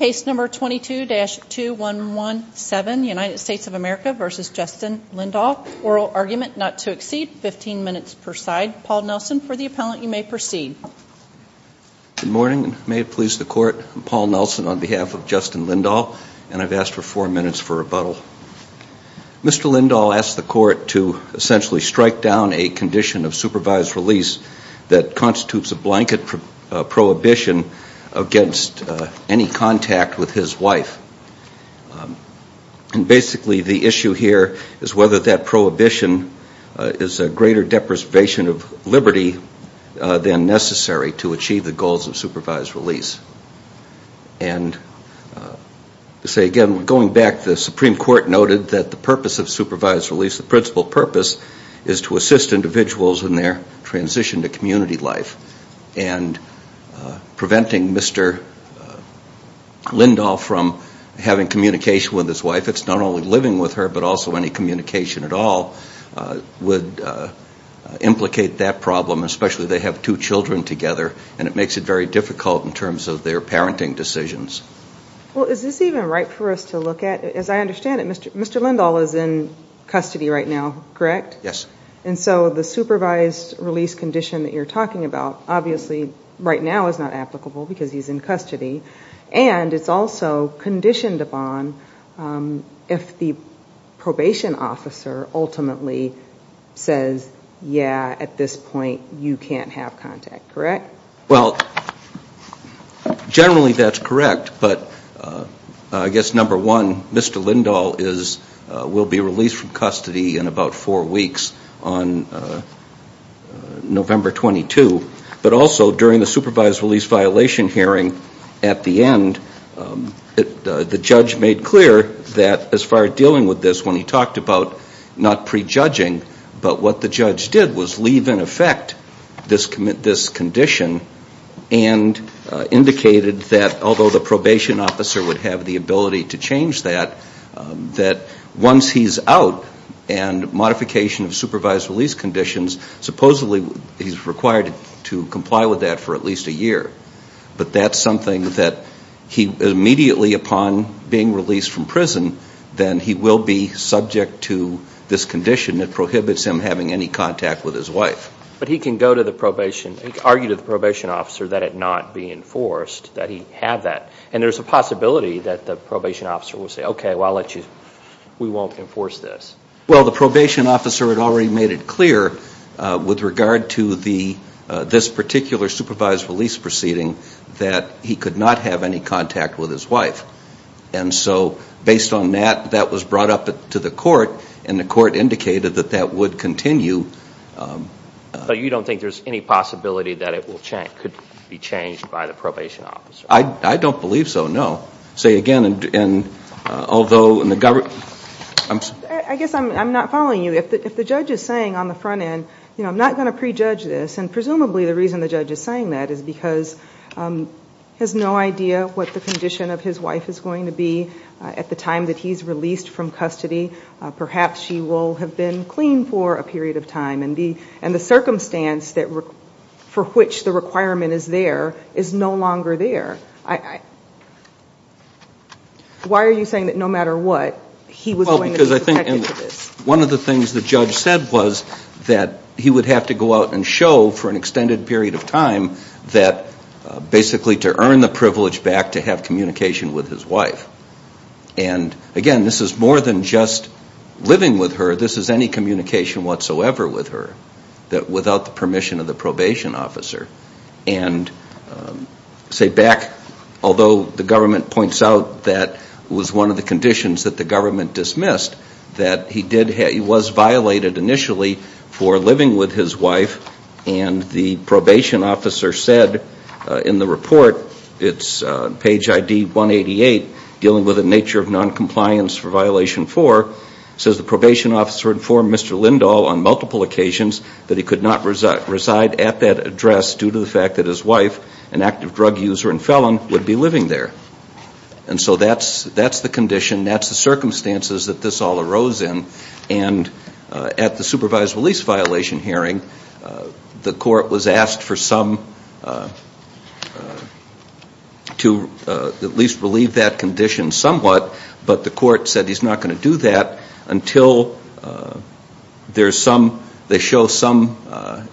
Case number 22-2117, United States of America v. Justin Lindahl, oral argument not to exceed 15 minutes per side. Paul Nelson, for the appellant, you may proceed. Good morning, and may it please the Court, I'm Paul Nelson on behalf of Justin Lindahl, and I've asked for four minutes for rebuttal. Mr. Lindahl asked the Court to essentially strike down a condition of supervised release that constitutes a blanket prohibition against any contact with his wife. And basically the issue here is whether that prohibition is a greater deprivation of liberty than necessary to achieve the goals of supervised release. And to say again, going back, the Supreme Court noted that the purpose of supervised release, the principal purpose, is to assist individuals in their transition to community life. And preventing Mr. Lindahl from having communication with his wife, it's not only living with her but also any communication at all, would implicate that problem, especially if they have two children together, and it makes it very difficult in terms of their parenting decisions. Well, is this even right for us to look at? As I understand it, Mr. Lindahl is in custody right now, correct? Yes. And so the supervised release condition that you're talking about, obviously right now is not applicable because he's in custody. And it's also conditioned upon if the probation officer ultimately says, yeah, at this point you can't have contact, correct? Well, generally that's correct, but I guess number one, Mr. Lindahl will be released from custody in about four weeks on November 22. But also during the supervised release violation hearing at the end, the judge made clear that as far as dealing with this, when he talked about not prejudging, but what the judge did was leave in effect this condition and indicated that although the probation officer would have the ability to change that, that once he's out and modification of supervised release conditions, supposedly he's required to comply with that for at least a year. But that's something that he immediately upon being released from prison, then he will be subject to this condition that prohibits him having any contact with his wife. But he can go to the probation, argue to the probation officer that it not be enforced, that he have that. And there's a possibility that the probation officer will say, okay, well, I'll let you, we won't enforce this. Well, the probation officer had already made it clear with regard to this particular supervised release proceeding that he could not have any contact with his wife. And so based on that, that was brought up to the court and the court indicated that that would continue. But you don't think there's any possibility that it could be changed by the probation officer? I don't believe so, no. Say again, although in the government... I guess I'm not following you. If the judge is saying on the front end, you know, I'm not going to prejudge this, and presumably the reason the judge is saying that is because he has no idea what the condition of his wife is going to be at the time that he's released from custody. Perhaps she will have been clean for a period of time. And the circumstance for which the requirement is there is no longer there. Why are you saying that no matter what, he was going to be protected for this? Well, because I think one of the things the judge said was that he would have to go out and show for an extended period of time that basically to earn the privilege back to have communication with his wife. And again, this is more than just living with her. This is any communication whatsoever with her without the permission of the probation officer. And say back, although the government points out that was one of the conditions that the government dismissed, that he was violated initially for living with his wife and the probation officer said in the report, it's page ID 188, dealing with the nature of noncompliance for violation four, says the probation officer informed Mr. Lindahl on multiple occasions that he could not reside at that address due to the fact that his wife, an active drug user and felon, would be living there. And so that's the condition, that's the circumstances that this all arose in. And at the supervised release violation hearing, the court was asked for some, to at least relieve that condition somewhat, but the court said he's not going to do that until there's some, they show some,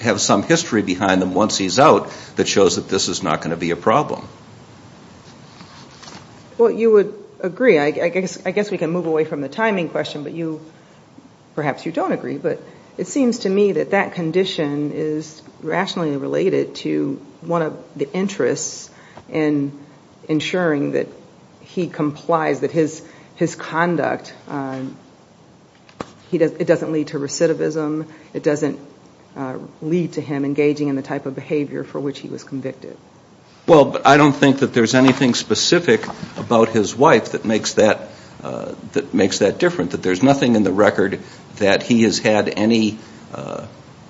have some history behind them once he's out that shows that this is not going to be a problem. Well, you would agree, I guess we can move away from the timing question, but you, perhaps you don't agree, but it seems to me that that condition is rationally related to one of the interests in ensuring that he complies, that his conduct, it doesn't lead to recidivism, it doesn't lead to him engaging in the type of behavior for which he was convicted. Well, but I don't think that there's anything specific about his wife that makes that different, that there's nothing in the record that he has had any,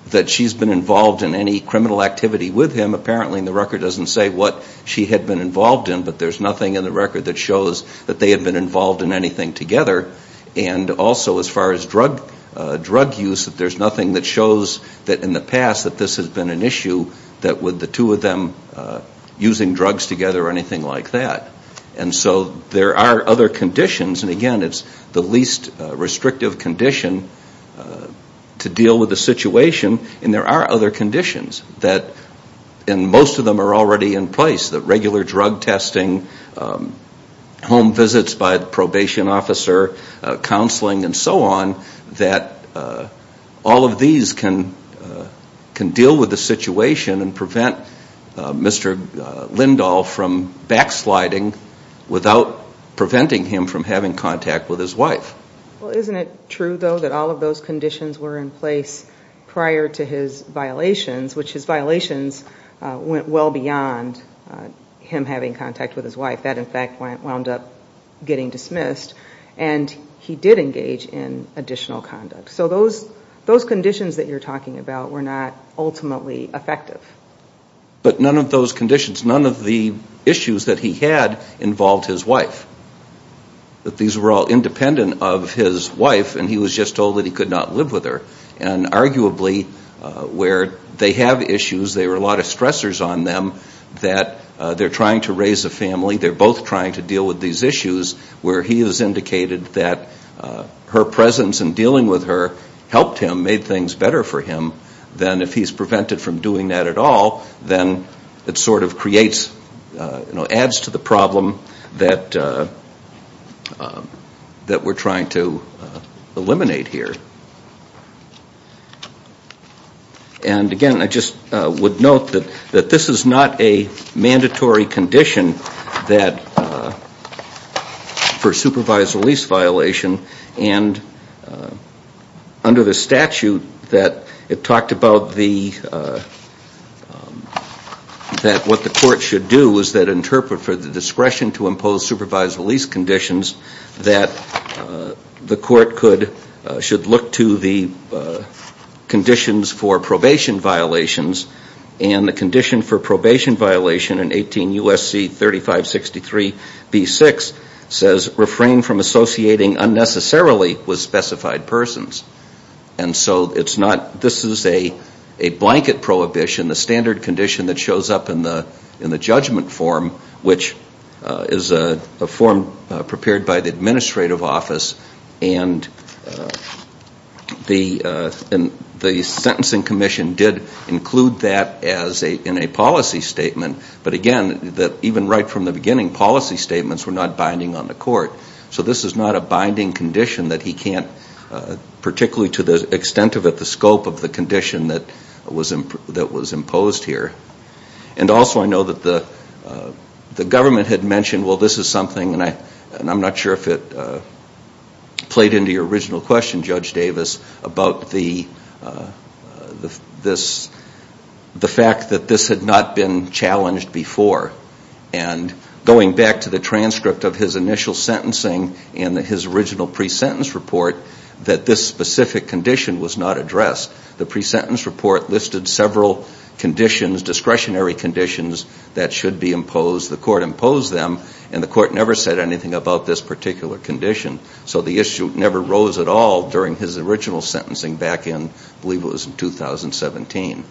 that she's been involved in any criminal activity with him. Apparently in the record it doesn't say what she had been involved in, but there's nothing in the record that shows that they had been involved in anything together. And also as far as drug use, there's nothing that shows that in the past that this has been an issue, that with the two of them using drugs together or anything like that. And so there are other conditions, and again, it's the least restrictive condition to deal with the situation, and there are other conditions that, and most of them are already in place, that regular drug testing, home visits by the probation officer, counseling and so on, that all of these can deal with the situation and prevent Mr. Lindahl from backsliding without preventing him from having contact with his wife. Well, isn't it true, though, that all of those conditions were in place prior to his violations, which his violations went well beyond him having contact with his wife? That in fact wound up getting dismissed, and he did engage in additional conduct. So those conditions that you're talking about were not ultimately effective. But none of those conditions, none of the issues that he had involved his wife, that these were all independent of his wife and he was just told that he could not live with her. And arguably where they have issues, there are a lot of stressors on them, that they're trying to raise a family, they're both trying to deal with these issues, where he has indicated that her presence in dealing with her helped him, made things better for him, then if he's prevented from doing that at all, then it sort of creates, you know, adds to the problem that we're trying to eliminate here. And again, I just would note that this is not a mandatory condition that, for supervised release violation, and under the statute that it talked about the, that what the court should do is that interpret for the discretion to impose supervised release conditions that the court could, should look to the conditions for probation violations. And the condition for probation violation in 18 U.S.C. 3563 B.6 says, refrain from associating unnecessarily with specified persons. And so it's not, this is a blanket prohibition, the standard condition that shows up in the judgment form, which is a form prepared by the administrative office, and the sentencing commission did include that in a policy statement, but again, even right from the beginning, policy statements were not binding on the court. So this is not a binding condition that he can't, particularly to the extent of it, the scope of the condition that was imposed here. And also I know that the government had mentioned, well, this is something, and I'm not sure if it played into your original question, Judge Davis, about the fact that this had not been challenged before. And going back to the transcript of his initial sentencing and his original pre-sentence report, that this specific condition was not addressed. The pre-sentence report listed several conditions, discretionary conditions, that should be imposed. The court imposed them, and the court never said anything about this particular condition. So the issue never rose at all during his original sentencing back in, I believe it was in 2017.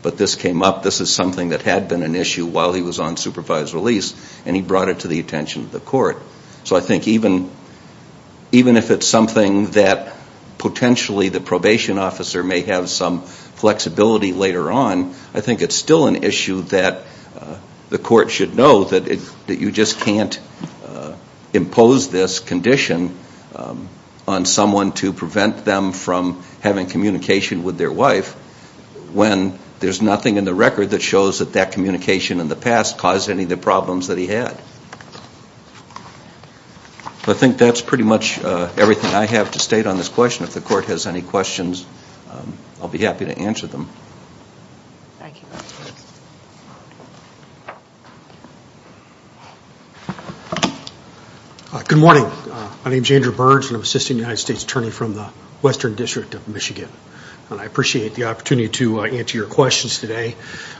But this came up. This is something that had been an issue while he was on supervised release, and he brought it to the attention of the court. So I think even if it's something that potentially the probation officer may have some flexibility later on, I think it's still an issue that the court should know that you just can't impose this condition on someone to prevent them from having communication with their wife when there's nothing in the record that shows that that communication in the past caused any of the problems that he had. I think that's pretty much everything I have to state on this question. If the court has any questions, I'll be happy to answer them. Good morning. My name is Andrew Burge, and I'm an assistant United States attorney from the Western District of Michigan. And I appreciate the opportunity to answer your questions today.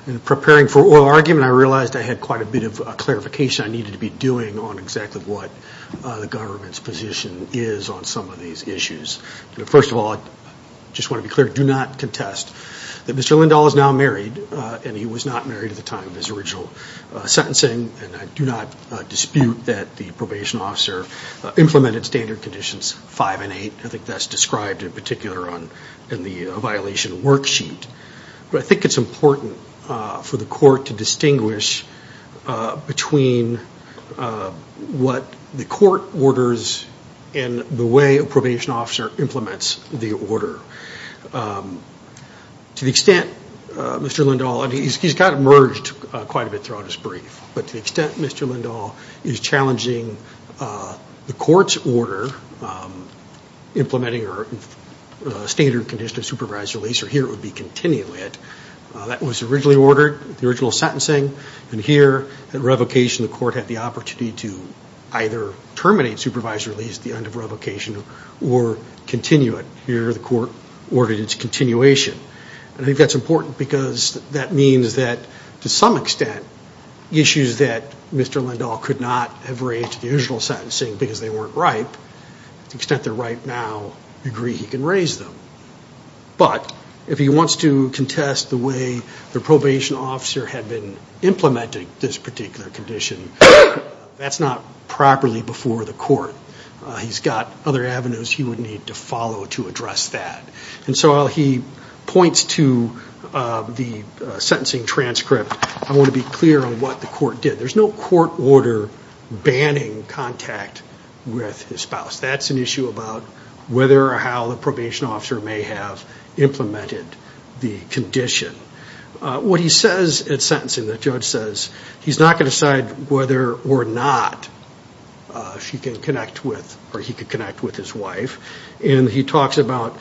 In preparing for oral argument, I realized I had quite a bit of clarification I needed to be doing on exactly what the government's position is on some of these issues. First of all, I just want to be clear, do not contest that Mr. Lindahl is now married, and he was not married at the time of his original sentencing. And I do not dispute that the probation officer implemented Standard Conditions 5 and 8. I think that's described in particular in the violation worksheet. But I think it's important for the court to distinguish between what the court orders and the way a probation officer implements the order. To the extent Mr. Lindahl, and he's kind of merged quite a bit throughout his brief, but to the extent Mr. Lindahl is challenging the court's order, implementing a standard condition of supervised release, or here it would be continue it, that was originally ordered, the original sentencing. And here at revocation, the court had the opportunity to either terminate supervised release at the end of revocation or continue it. Here the court ordered its continuation. And I think that's important because that means that, to some extent, issues that Mr. Lindahl could not have raised to the original sentencing because they weren't ripe, to the extent they're ripe now, I agree he can raise them. But if he wants to contest the way the probation officer had been implementing this particular condition, that's not properly before the court. He's got other avenues he would need to follow to address that. And so while he points to the sentencing transcript, I want to be clear on what the court did. There's no court order banning contact with his spouse. That's an issue about whether or how the probation officer may have implemented the condition. What he says at sentencing, the judge says, he's not going to decide whether or not he can connect with his wife. And he talks about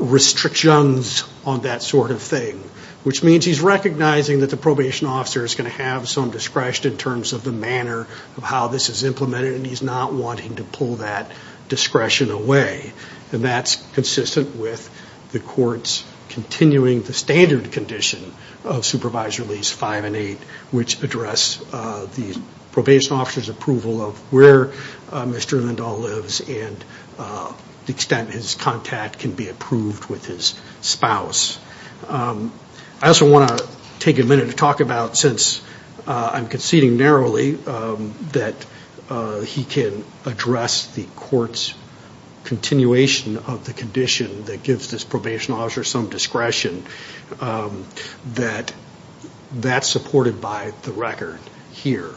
restrictions on that sort of thing, which means he's recognizing that the probation officer is going to have some discretion in terms of the manner of how this is implemented, and he's not wanting to pull that discretion away. And that's consistent with the court's continuing the standard condition of Supervised Release 5 and 8, which address the probation officer's approval of where Mr. Lindahl lives and the extent his contact can be approved with his spouse. I also want to take a minute to talk about, since I'm conceding narrowly, that he can address the court's continuation of the condition that gives this probation officer some discretion, that that's supported by the record here.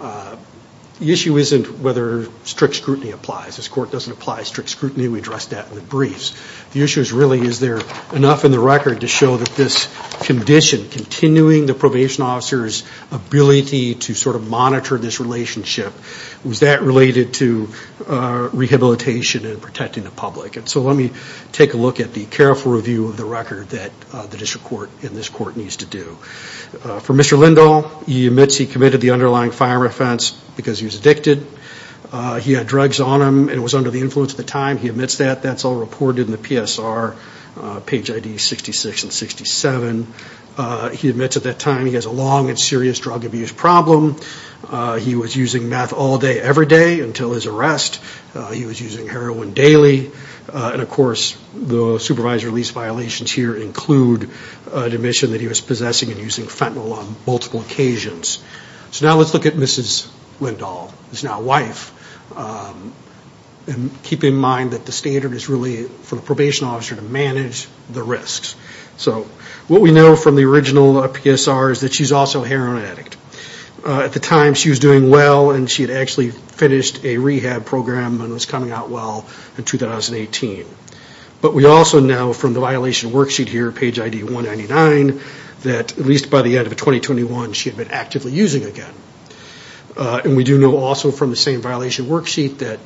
The issue isn't whether strict scrutiny applies. This court doesn't apply strict scrutiny. We addressed that in the briefs. The issue is really, is there enough in the record to show that this condition, continuing the probation officer's ability to sort of monitor this relationship, was that related to rehabilitation and protecting the public? So let me take a look at the careful review of the record that the district court and this court needs to do. For Mr. Lindahl, he admits he committed the underlying firearm offense because he was addicted. He had drugs on him and was under the influence at the time. He admits that. That's all reported in the PSR, page ID 66 and 67. He admits at that time he has a long and serious drug abuse problem. He was using meth all day, every day until his arrest. He was using heroin daily. And, of course, the supervisory lease violations here include an admission that he was possessing and using fentanyl on multiple occasions. So now let's look at Mrs. Lindahl, his now wife, and keep in mind that the standard is really for the probation officer to manage the risks. So what we know from the original PSR is that she's also a heroin addict. At the time, she was doing well and she had actually finished a rehab program and was coming out well in 2018. But we also know from the violation worksheet here, page ID 199, that at least by the end of 2021, she had been actively using again. And we do know also from the same violation worksheet that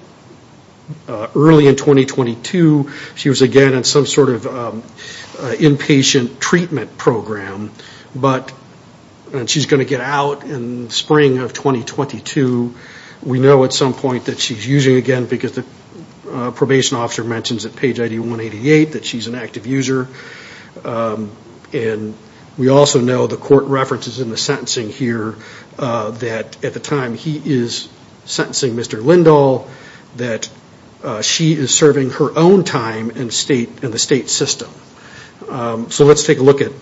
early in 2022, she was again in some sort of inpatient treatment program. And she's going to get out in spring of 2022. We know at some point that she's using again because the probation officer mentions at page ID 188 that she's an active user. And we also know the court references in the sentencing here that at the time he is sentencing Mr. Lindahl, that she is serving her own time in the state system. So let's take a look at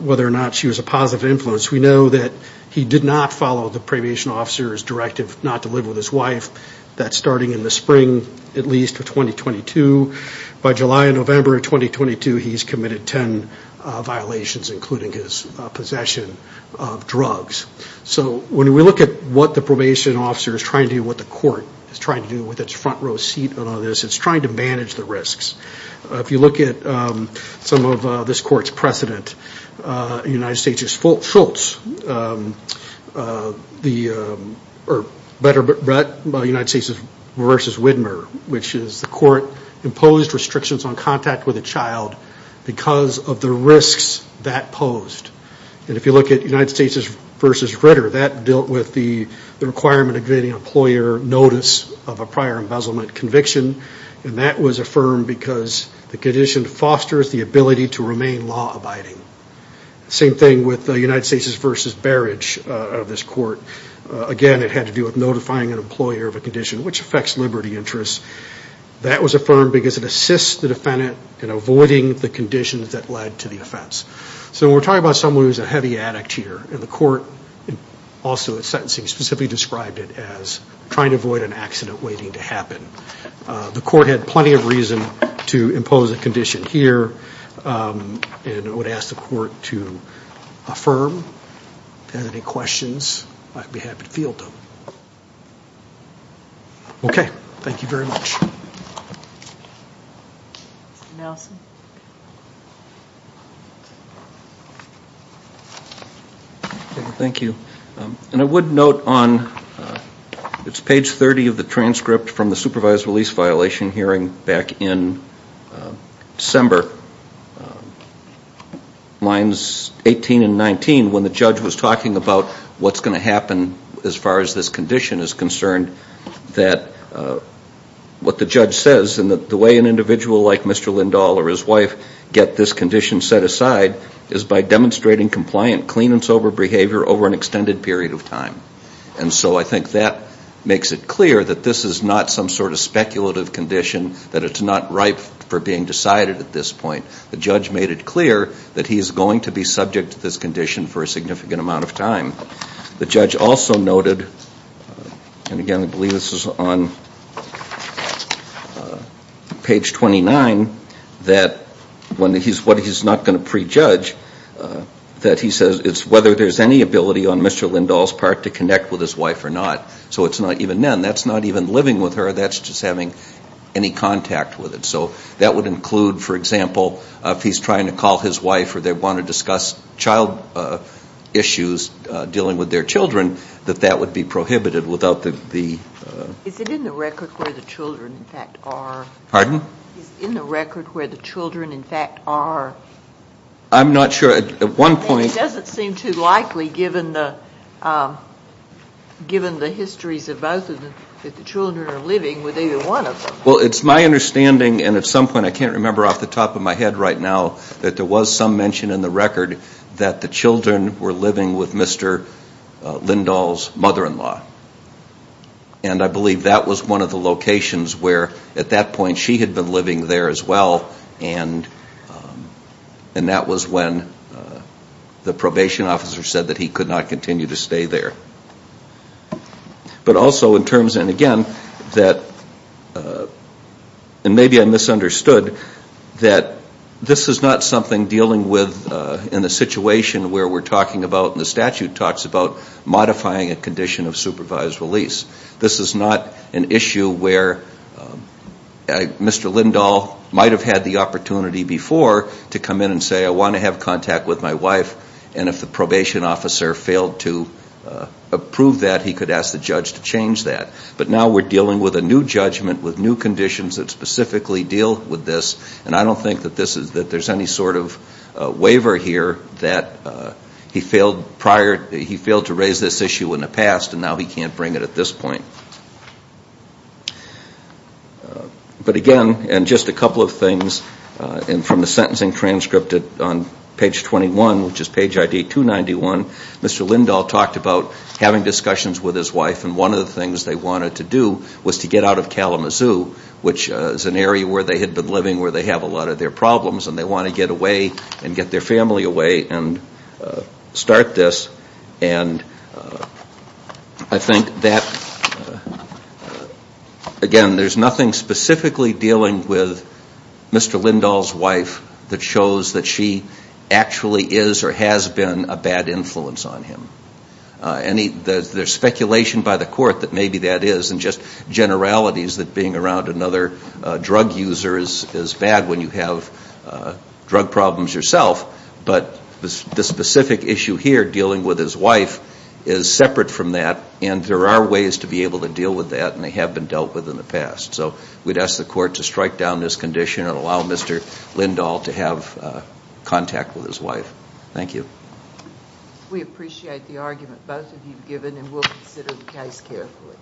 whether or not she was a positive influence. We know that he did not follow the probation officer's directive not to live with his wife. That's starting in the spring at least of 2022. By July and November of 2022, he's committed 10 violations, including his possession of drugs. So when we look at what the probation officer is trying to do, what the court is trying to do with its front row seat on all this, it's trying to manage the risks. If you look at some of this court's precedent, United States v. Widmer, which is the court imposed restrictions on contact with a child because of the risks that posed. And if you look at United States v. Ritter, that dealt with the requirement of getting employer notice of a prior embezzlement conviction. And that was affirmed because the condition fosters the ability to remain law-abiding. Same thing with United States v. Barrage of this court. Again, it had to do with notifying an employer of a condition which affects liberty interests. That was affirmed because it assists the defendant in avoiding the conditions that led to the offense. So when we're talking about someone who's a heavy addict here, and the court also at sentencing specifically described it as trying to avoid an accident waiting to happen. The court had plenty of reason to impose a condition here, and I would ask the court to affirm. If you have any questions, I'd be happy to field them. Okay. Thank you very much. Mr. Nelson. Thank you. And I would note on page 30 of the transcript from the supervised release violation hearing back in December, lines 18 and 19, when the judge was talking about what's going to happen as far as this condition is concerned, that what the judge says and the way an individual like Mr. Lindahl or his wife get this condition set aside is by demonstrating compliant, clean and sober behavior over an extended period of time. And so I think that makes it clear that this is not some sort of speculative condition, that it's not ripe for being decided at this point. The judge made it clear that he's going to be subject to this condition for a significant amount of time. The judge also noted, and again I believe this is on page 29, that what he's not going to prejudge, that he says it's whether there's any ability on Mr. Lindahl's part to connect with his wife or not. So it's not even then, that's not even living with her, that's just having any contact with it. So that would include, for example, if he's trying to call his wife or they want to discuss child issues dealing with their children, that that would be prohibited without the... Is it in the record where the children in fact are? Pardon? Is it in the record where the children in fact are? I'm not sure. At one point... It doesn't seem too likely given the histories of both of them, that the children are living with either one of them. Well, it's my understanding and at some point, I can't remember off the top of my head right now, that there was some mention in the record that the children were living with Mr. Lindahl's mother-in-law. And I believe that was one of the locations where at that point she had been living there as well and that was when the probation officer said that he could not continue to stay there. But also in terms, and again, and maybe I misunderstood, that this is not something dealing with in a situation where we're talking about, and the statute talks about modifying a condition of supervised release. This is not an issue where Mr. Lindahl might have had the opportunity before to come in and say, I want to have contact with my wife and if the probation officer failed to approve that, he could ask the judge to change that. But now we're dealing with a new judgment with new conditions that specifically deal with this and I don't think that there's any sort of waiver here that he failed to raise this issue in the past and now he can't bring it at this point. But again, and just a couple of things, and from the sentencing transcript on page 21, which is page ID 291, Mr. Lindahl talked about having discussions with his wife and one of the things they wanted to do was to get out of Kalamazoo, which is an area where they had been living where they have a lot of their problems and they want to get away and get their family away and start this. And I think that, again, there's nothing specifically dealing with Mr. Lindahl's wife that shows that she actually is or has been a bad influence on him. There's speculation by the court that maybe that is and just generalities that being around another drug user is bad when you have drug problems yourself, but the specific issue here dealing with his wife is separate from that and there are ways to be able to deal with that and they have been dealt with in the past. So we'd ask the court to strike down this condition and allow Mr. Lindahl to have contact with his wife. Thank you. We appreciate the argument both of you have given and we'll consider the case carefully.